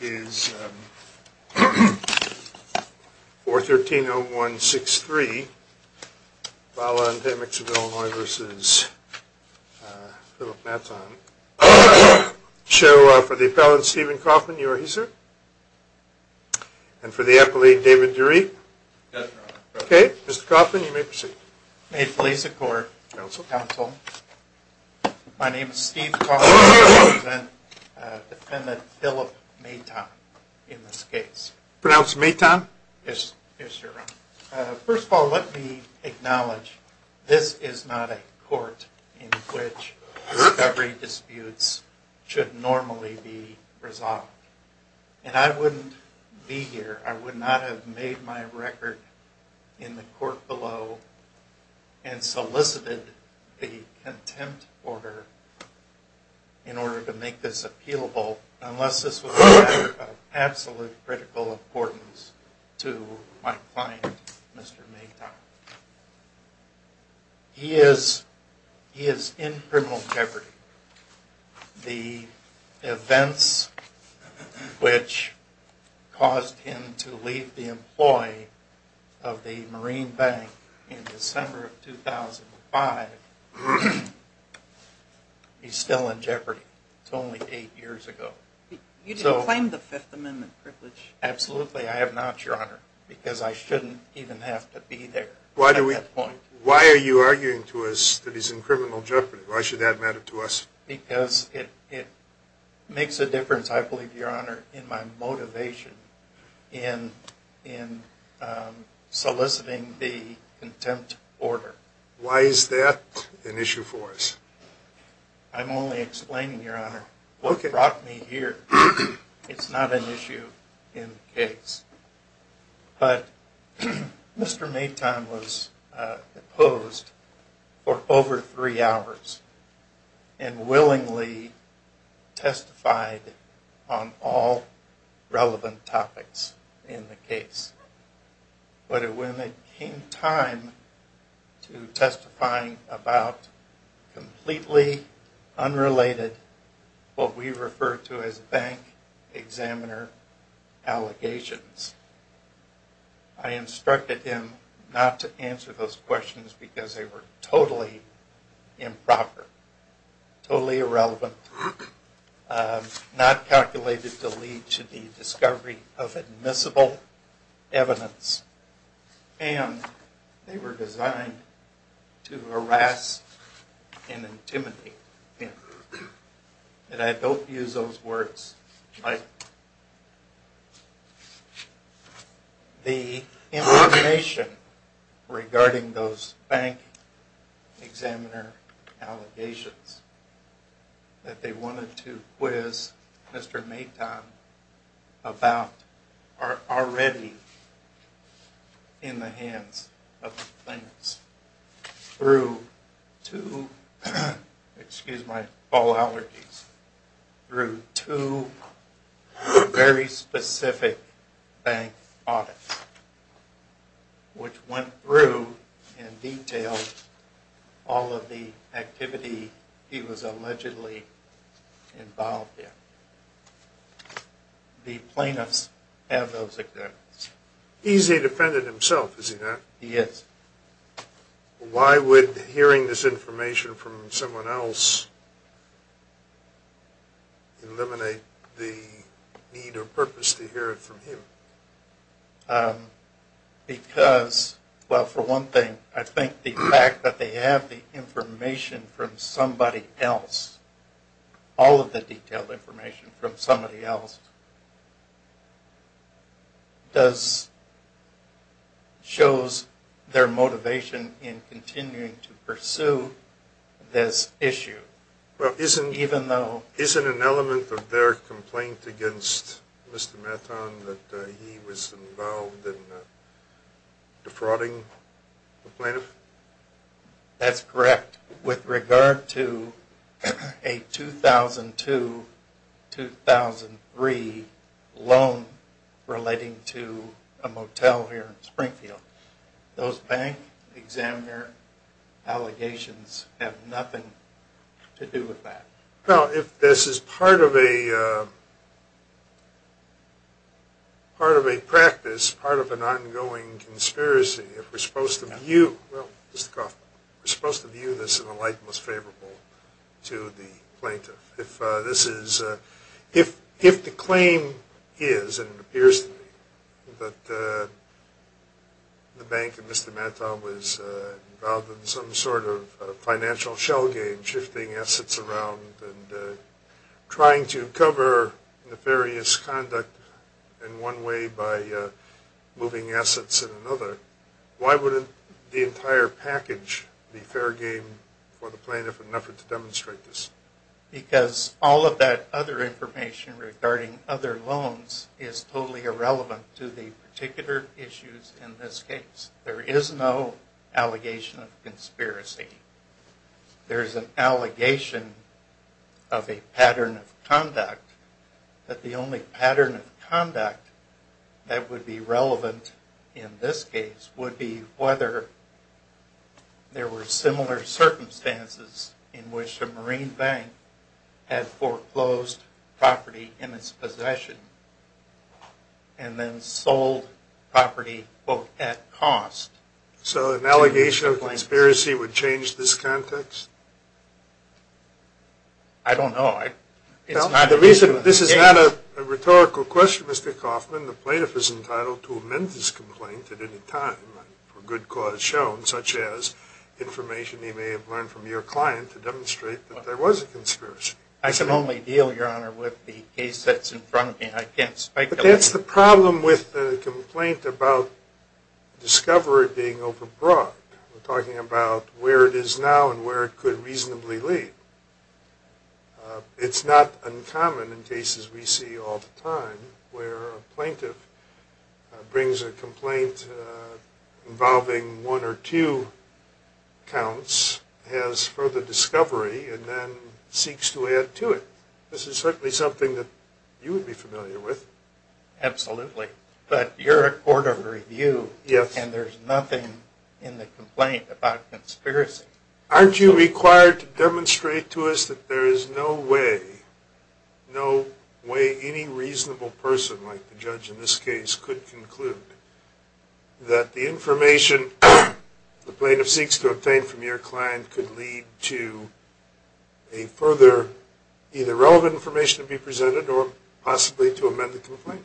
is 413-0163, Vala and Tameks of Illinois v. Philip Maton, show for the appellant Stephen Coffman, you are he, sir? And for the appellate, David Dury? Yes, Your Honor. Okay, Mr. Coffman, you may proceed. May it please the Court, Counsel. My name is Stephen Coffman, defendant Philip Maton in this case. Pronounce Maton. Yes, Your Honor. First of all, let me acknowledge this is not a court in which discovery disputes should normally be resolved. And I wouldn't be here, I would not have made my record in the court below and solicited the contempt order in order to make this appealable unless this was of absolute critical importance to my client, Mr. Maton. He is in criminal jeopardy. The events which caused him to leave the employee of the Marine Bank in December of 2005, he's still in jeopardy. It's only eight years ago. You didn't claim the Fifth Amendment privilege? Absolutely I have not, Your Honor, because I shouldn't even have to be there at that point. Why are you arguing to us that he's in criminal jeopardy? Why should that matter to us? Because it makes a difference, I believe, Your Honor, in my motivation in soliciting the contempt order. Why is that an issue for us? I'm only explaining, Your Honor, what brought me here. It's not an issue in the case. But Mr. Maton was opposed for over three hours and willingly testified on all relevant topics in the case. But when it came time to testifying about completely unrelated, what we refer to as bank examiner allegations, I instructed him not to answer those questions because they were totally improper, totally irrelevant, not calculated to lead to the discovery of admissible evidence, and they were designed to harass and intimidate him. And I don't use those words. The information regarding those bank examiner allegations that they wanted to quiz Mr. Maton about are already in the hands of the plaintiffs through two very specific bank audits, which went through and detailed all of the activity he was allegedly involved in. The plaintiffs have those examples. He's a defendant himself, is he not? He is. Why would hearing this information from someone else eliminate the need or purpose to hear it from him? Because, well, for one thing, I think the fact that they have the information from somebody else, all of the detailed information from somebody else, shows their motivation in continuing to pursue this issue. Well, isn't an element of their complaint against Mr. Maton that he was involved in defrauding the plaintiff? That's correct. With regard to a 2002-2003 loan relating to a motel here in Springfield, those bank examiner allegations have nothing to do with that. Well, if this is part of a practice, part of an ongoing conspiracy, we're supposed to view this in a light that's favorable to the plaintiff. If the claim is, and it appears to me, that the bank and Mr. Maton was involved in some sort of financial shell game, shifting assets around and trying to cover nefarious conduct in one way by moving assets in another, why wouldn't the entire package be fair game for the plaintiff in an effort to demonstrate this? Because all of that other information regarding other loans is totally irrelevant to the particular issues in this case. There is no allegation of conspiracy. There is an allegation of a pattern of conduct, but the only pattern of conduct that would be relevant in this case would be whether there were similar circumstances in which a marine bank had foreclosed property in its possession and then sold property, quote, at cost. So an allegation of conspiracy would change this context? I don't know. This is not a rhetorical question, Mr. Kaufman. The plaintiff is entitled to amend his complaint at any time for good cause shown, such as information he may have learned from your client to demonstrate that there was a conspiracy. I can only deal, Your Honor, with the case that's in front of me. I can't speculate. But that's the problem with the complaint about discovery being overbrought. We're talking about where it is now and where it could reasonably lead. It's not uncommon in cases we see all the time where a plaintiff brings a complaint involving one or two counts, has further discovery, and then seeks to add to it. This is certainly something that you would be familiar with. Absolutely. But you're a court of review, and there's nothing in the complaint about conspiracy. Aren't you required to demonstrate to us that there is no way, no way any reasonable person like the judge in this case could conclude that the information the plaintiff seeks to obtain from your client could lead to a further either relevant information to be presented or possibly to amend the complaint?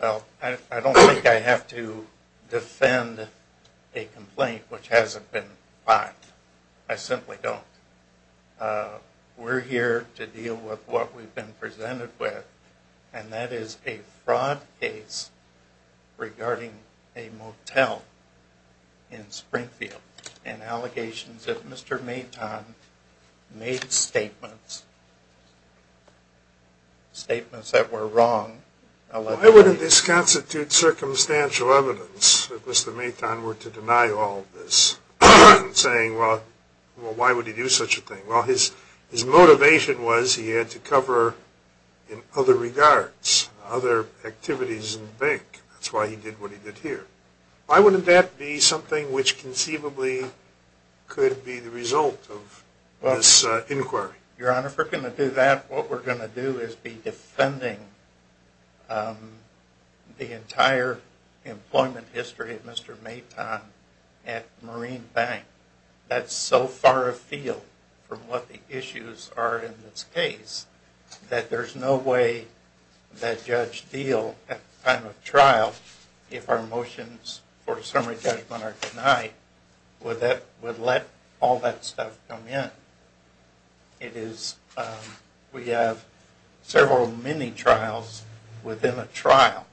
Well, I don't think I have to defend a complaint which hasn't been filed. I simply don't. We're here to deal with what we've been presented with, and that is a fraud case regarding a motel in Springfield and allegations that Mr. Maton made statements, statements that were wrong. Why wouldn't this constitute circumstantial evidence that Mr. Maton were to deny all this, saying, well, why would he do such a thing? Well, his motivation was he had to cover in other regards other activities in the bank. That's why he did what he did here. Why wouldn't that be something which conceivably could be the result of this inquiry? Your Honor, if we're going to do that, what we're going to do is be defending the entire employment history of Mr. Maton at Marine Bank. That's so far afield from what the issues are in this case that there's no way that Judge Diehl at the time of trial, if our motions for summary judgment are denied, would let all that stuff come in. It is, we have several mini-trials within a trial.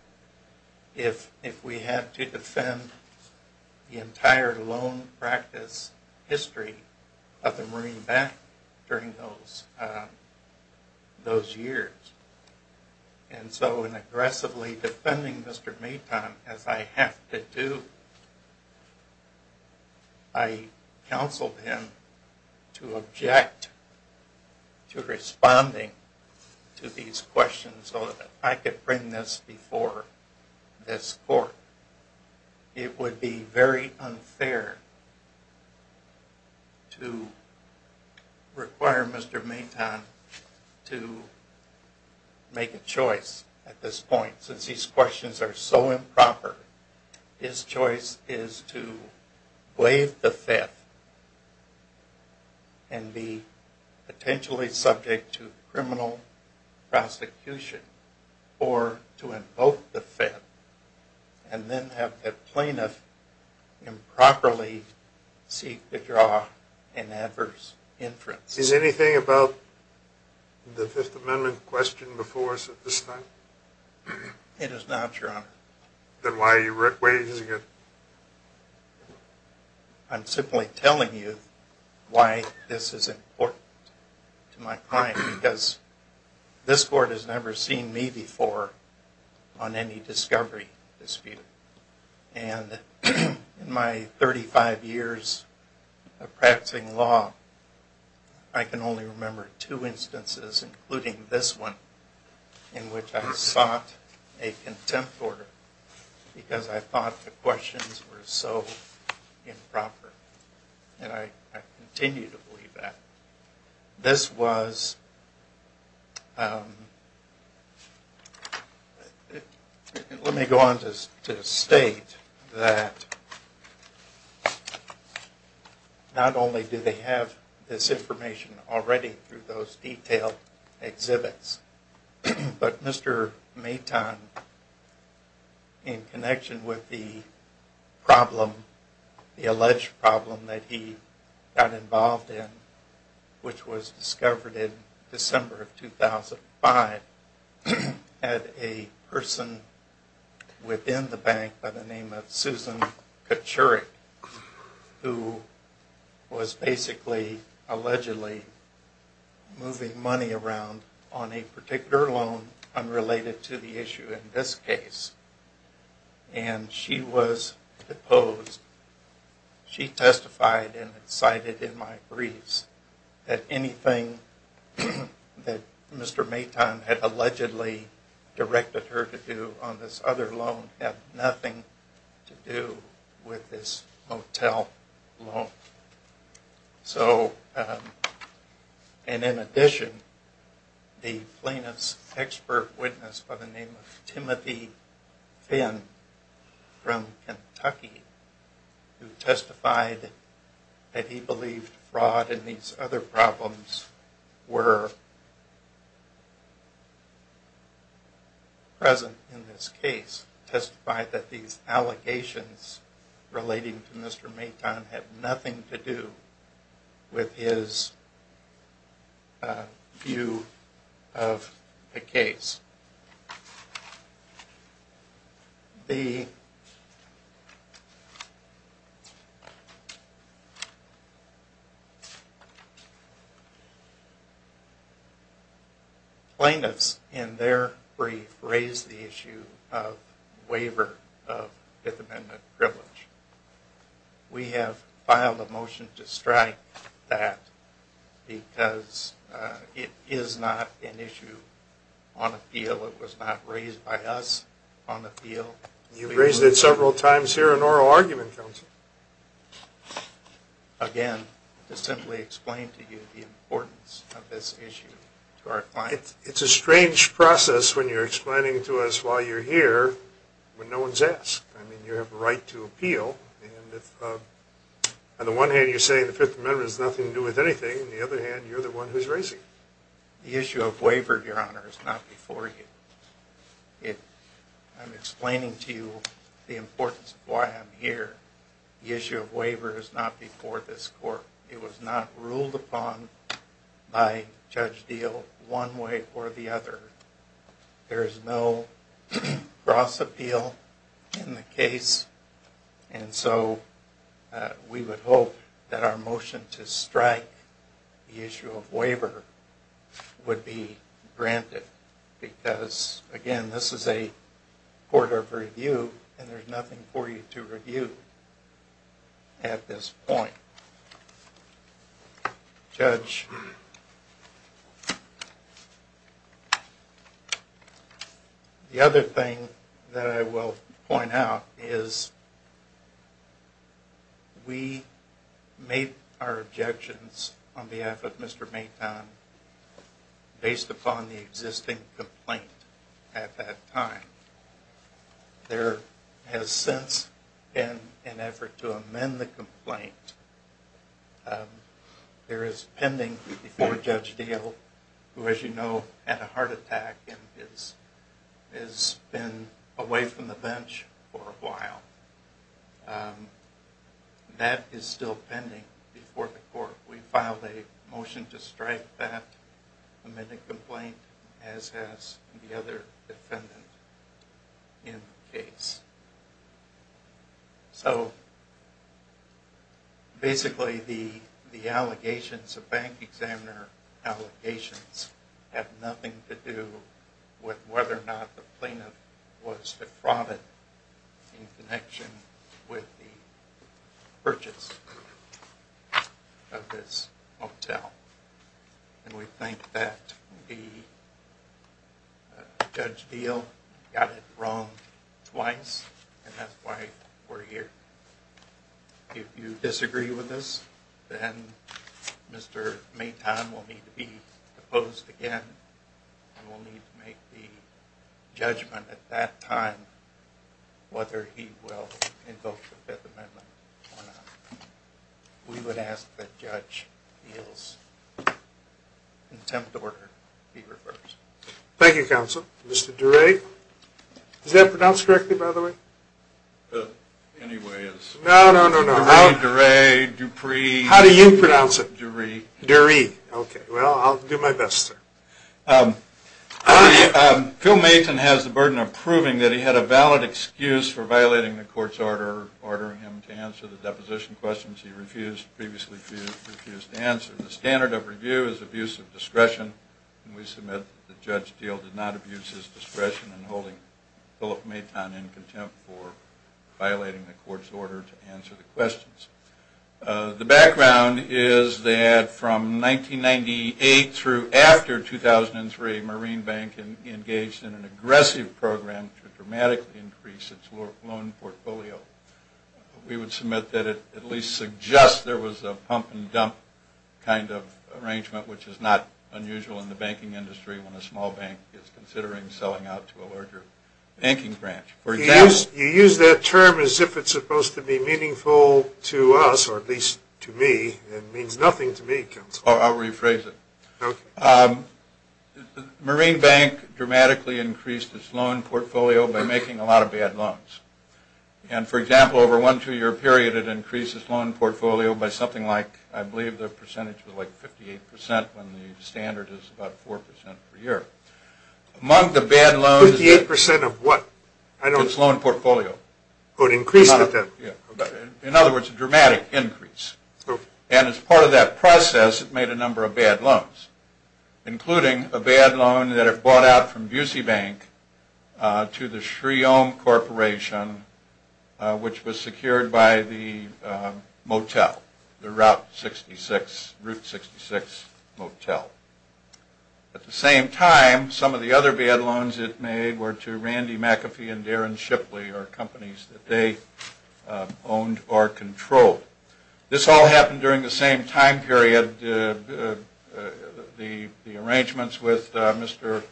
If we have to defend the entire loan practice history of the Marine Bank during those years. And so in aggressively defending Mr. Maton, as I have to do, I counseled him to object to responding to these questions so that I could bring this before this court. It would be very unfair to require Mr. Maton to make a choice at this point. Since these questions are so improper, his choice is to waive the theft and be potentially subject to criminal prosecution or to invoke the theft and then have the plaintiff improperly seek to draw an adverse inference. Is anything about the Fifth Amendment questioned before us at this time? It is not, Your Honor. Then why are you raising it? I'm simply telling you why this is important to my client because this court has never seen me before on any discovery dispute. And in my 35 years of practicing law, I can only remember two instances, including this one, in which I sought a contempt order because I thought the questions were so improper. And I continue to believe that. Let me go on to state that not only do they have this information already through those detailed exhibits, but Mr. Maton, in connection with the alleged problem that he got involved in, which was discovered in December of 2005, had a person within the bank by the name of Susan Kachurik who was basically, allegedly, moving money around on a particular loan unrelated to the issue in this case. And she was deposed. She testified and cited in my briefs that anything that Mr. Maton had allegedly directed her to do on this other loan had nothing to do with this motel loan. And in addition, the plaintiff's expert witness by the name of Timothy Finn from Kentucky, who testified that he believed fraud and these other problems were present in this case, testified that these allegations relating to Mr. Maton had nothing to do with his view of the case. The plaintiffs in their brief raised the issue of waiver of Fifth Amendment privilege. We have filed a motion to strike that because it is not an issue on appeal. It was not raised by us on appeal. You've raised it several times here in oral argument, counsel. Again, to simply explain to you the importance of this issue to our clients. It's a strange process when you're explaining to us while you're here when no one's asked. I mean, you have a right to appeal. On the one hand, you're saying the Fifth Amendment has nothing to do with anything. On the other hand, you're the one who's raising it. The issue of waiver, Your Honor, is not before you. I'm explaining to you the importance of why I'm here. The issue of waiver is not before this court. It was not ruled upon by Judge Deal one way or the other. There is no cross appeal in the case. And so we would hope that our motion to strike the issue of waiver would be granted. Because, again, this is a court of review and there's nothing for you to review at this point. Judge, the other thing that I will point out is we made our objections on behalf of Mr. Maton based upon the existing complaint at that time. There has since been an effort to amend the complaint. There is pending before Judge Deal, who, as you know, had a heart attack and has been away from the bench for a while. We filed a motion to strike that amended complaint, as has the other defendant in the case. Basically, the allegations of bank examiner allegations have nothing to do with whether or not the plaintiff was a fraud in connection with the purchase of this hotel. And we think that the Judge Deal got it wrong twice, and that's why we're here. If you disagree with us, then Mr. Maton will need to be opposed again and will need to make the judgment at that time whether he will indulge the Fifth Amendment or not. We would ask that Judge Deal's contempt order be reversed. Thank you, Counsel. Mr. Duray? Is that pronounced correctly, by the way? Anyway, it's... No, no, no, no. Duray, Duray, Dupree... How do you pronounce it? Duray. Duray. Okay, well, I'll do my best, sir. Phil Maton has the burden of proving that he had a valid excuse for violating the court's order ordering him to answer the deposition questions he previously refused to answer. The standard of review is abuse of discretion, and we submit that Judge Deal did not abuse his discretion in holding Philip Maton in contempt for violating the court's order to answer the questions. The background is that from 1998 through after 2003, Marine Bank engaged in an aggressive program to dramatically increase its loan portfolio. We would submit that it at least suggests there was a pump-and-dump kind of arrangement, which is not unusual in the banking industry when a small bank is considering selling out to a larger banking branch. You use that term as if it's supposed to be meaningful to us, or at least to me. It means nothing to me, Counselor. I'll rephrase it. Marine Bank dramatically increased its loan portfolio by making a lot of bad loans. And, for example, over one two-year period, it increased its loan portfolio by something like, I believe the percentage was like 58% when the standard is about 4% per year. Fifty-eight percent of what? Its loan portfolio. Oh, it increased with that? In other words, a dramatic increase. And as part of that process, it made a number of bad loans, including a bad loan that it bought out from Bucey Bank to the Shreome Corporation, which was secured by the motel, the Route 66 motel. At the same time, some of the other bad loans it made were to Randy McAfee and Darren Shipley, or companies that they owned or controlled. This all happened during the same time period. The arrangements with Mr.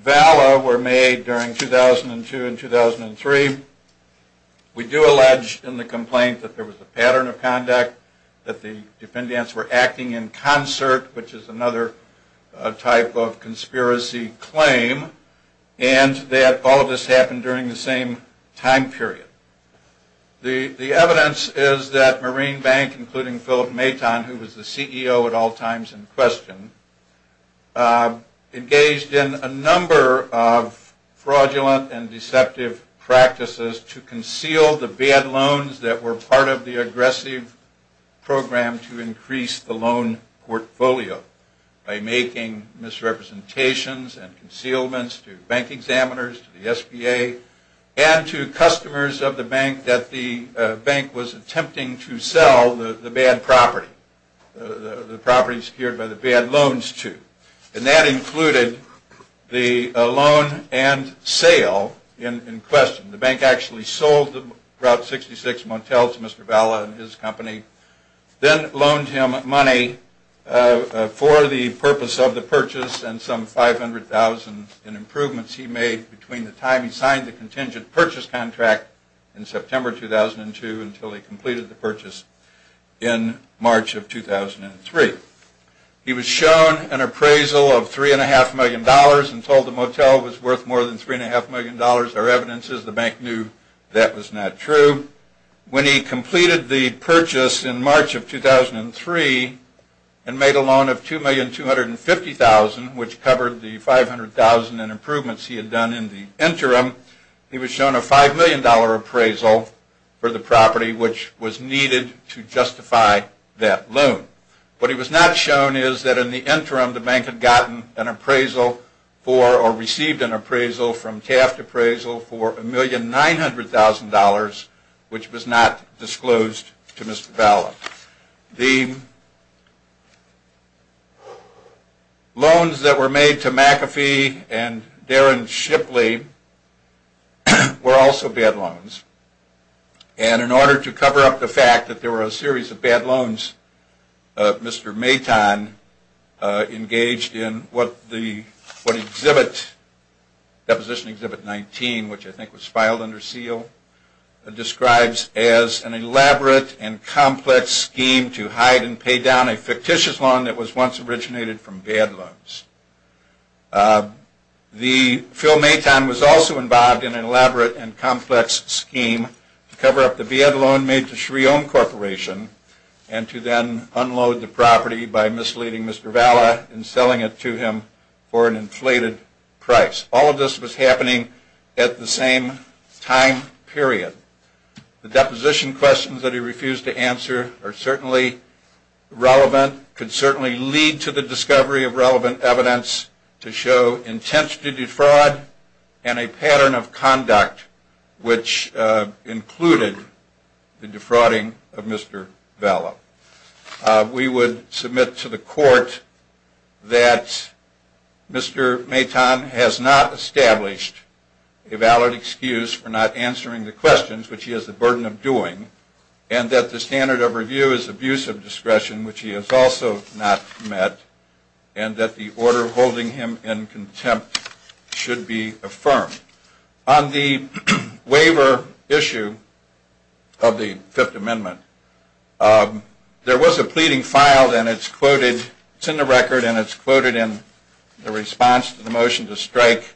Valla were made during 2002 and 2003. We do allege in the complaint that there was a pattern of conduct, that the dependents were acting in concert, which is another type of conspiracy claim, and that all of this happened during the same time period. The evidence is that Marine Bank, including Philip Maton, who was the CEO at all times in question, engaged in a number of fraudulent and deceptive practices to conceal the bad loans that were part of the aggressive program to increase the loan portfolio by making misrepresentations and concealments to bank examiners, to the SBA, and to customers of the bank that the bank was attempting to sell the bad property, the properties secured by the bad loans to. And that included the loan and sale in question. The bank actually sold the Route 66 motel to Mr. Valla and his company, then loaned him money for the purpose of the purchase and some $500,000 in improvements he made between the time he signed the contingent purchase contract in September 2002 until he completed the purchase in March of 2003. He was shown an appraisal of $3.5 million and told the motel was worth more than $3.5 million. There are evidences the bank knew that was not true. When he completed the purchase in March of 2003 and made a loan of $2,250,000, which covered the $500,000 in improvements he had done in the interim, he was shown a $5 million appraisal for the property which was needed to justify that loan. What he was not shown is that in the interim the bank had gotten an appraisal for or received an appraisal from Taft Appraisal for $1,900,000 which was not disclosed to Mr. Valla. The loans that were made to McAfee and Darren Shipley were also bad loans. And in order to cover up the fact that there were a series of bad loans, Mr. Maton engaged in what the Deposition Exhibit 19, which I think was filed under seal, describes as an elaborate and complex scheme to hide and pay down a fictitious loan that was once originated from bad loans. Phil Maton was also involved in an elaborate and complex scheme to cover up the bad loan that was made to Shreome Corporation and to then unload the property by misleading Mr. Valla and selling it to him for an inflated price. All of this was happening at the same time period. The deposition questions that he refused to answer are certainly relevant, could certainly lead to the discovery of relevant evidence to show intent to defraud and a pattern of conduct which included the defrauding of Mr. Valla. We would submit to the court that Mr. Maton has not established a valid excuse for not answering the questions, which he has the burden of doing, and that the standard of review is abuse of discretion, which he has also not met, and that the order holding him in contempt should be affirmed. On the waiver issue of the Fifth Amendment, there was a pleading filed, and it's in the record and it's quoted in the response to the motion to strike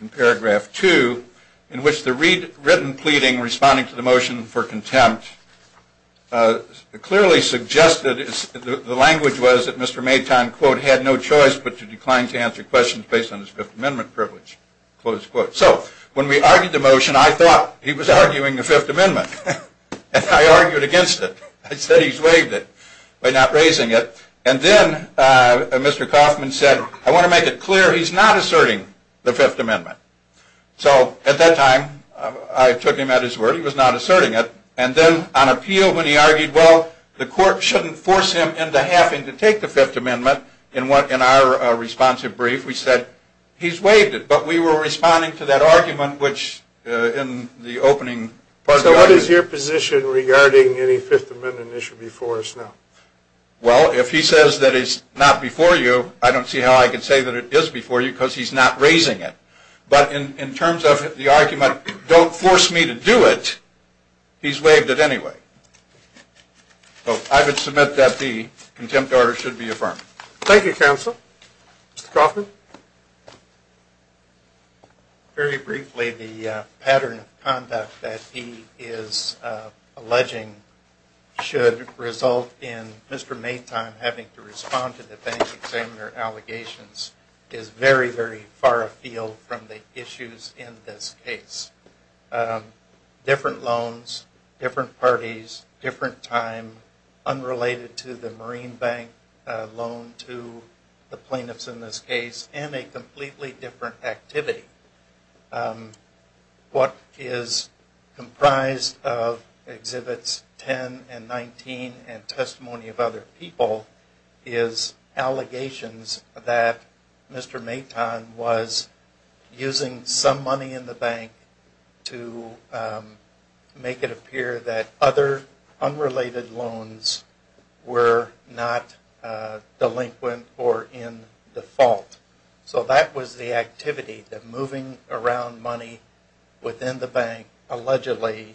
in paragraph 2, in which the written pleading responding to the motion for contempt clearly suggested, the language was that Mr. Maton, quote, had no choice but to decline to answer questions based on his Fifth Amendment privilege, close quote. So when we argued the motion, I thought he was arguing the Fifth Amendment, and I argued against it. I said he's waived it by not raising it, and then Mr. Kaufman said, I want to make it clear he's not asserting the Fifth Amendment. So at that time, I took him at his word, he was not asserting it, and then on appeal, when he argued, well, the court shouldn't force him into having to take the Fifth Amendment, in our responsive brief, we said, he's waived it. But we were responding to that argument, which in the opening. So what is your position regarding any Fifth Amendment issue before us now? Well, if he says that it's not before you, I don't see how I can say that it is before you, because he's not raising it. But in terms of the argument, don't force me to do it, he's waived it anyway. So I would submit that the contempt order should be affirmed. Thank you, counsel. Mr. Kaufman. Very briefly, the pattern of conduct that he is alleging should result in Mr. Maytime having to respond to the bank examiner allegations is very, very far afield from the issues in this case. Different loans, different parties, different time, unrelated to the Marine Bank loan to the plaintiffs in this case, and a completely different activity. What is comprised of Exhibits 10 and 19 and testimony of other people is allegations that Mr. Maytime was using some money in the bank to make it appear that other unrelated loans were not delinquent or in default. So that was the activity, that moving around money within the bank allegedly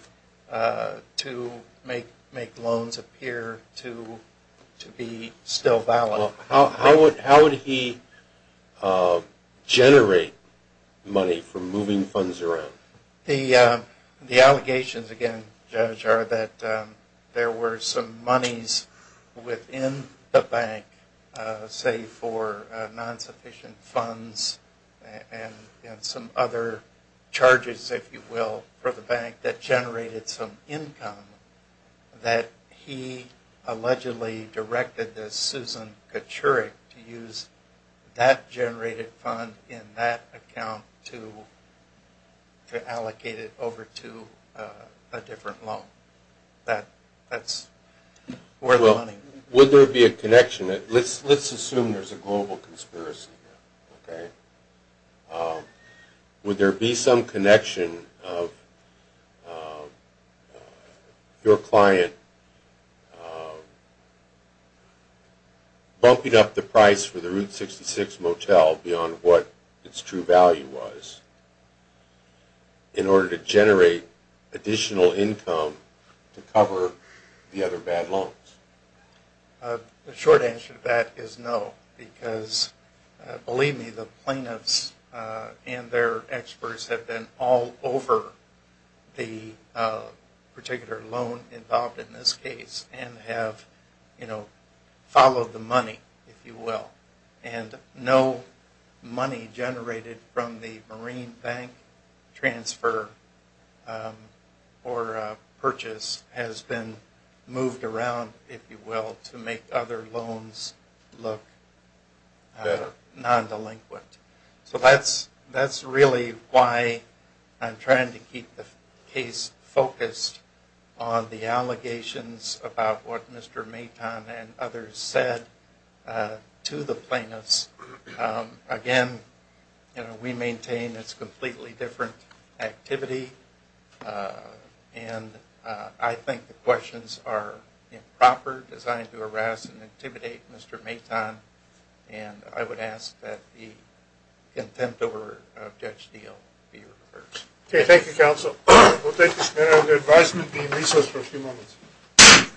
to make loans appear to be still valid. How would he generate money from moving funds around? The allegations, again, Judge, are that there were some monies within the bank, say for non-sufficient funds and some other charges, if you will, for the bank that generated some income that he allegedly directed to Susan Kaczurek to use that generated fund in that account to allocate it over to a different loan. That's where the money... Well, would there be a connection? Let's assume there's a global conspiracy here, okay? Would there be some connection of your client bumping up the price for the Route 66 motel beyond what its true value was in order to generate additional income to cover the other bad loans? The short answer to that is no. Because believe me, the plaintiffs and their experts have been all over the particular loan involved in this case and have followed the money, if you will. And no money generated from the Marine Bank transfer or purchase has been moved around, if you will, to make other loans look non-delinquent. So that's really why I'm trying to keep the case focused on the allegations about what Mr. Maton and others said to the plaintiffs. Again, we maintain it's a completely different activity. And I think the questions are improper, designed to harass and intimidate Mr. Maton. And I would ask that the contempt over a judge deal be reversed. Okay, thank you, counsel. We'll take this matter under advisement and be in recess for a few moments.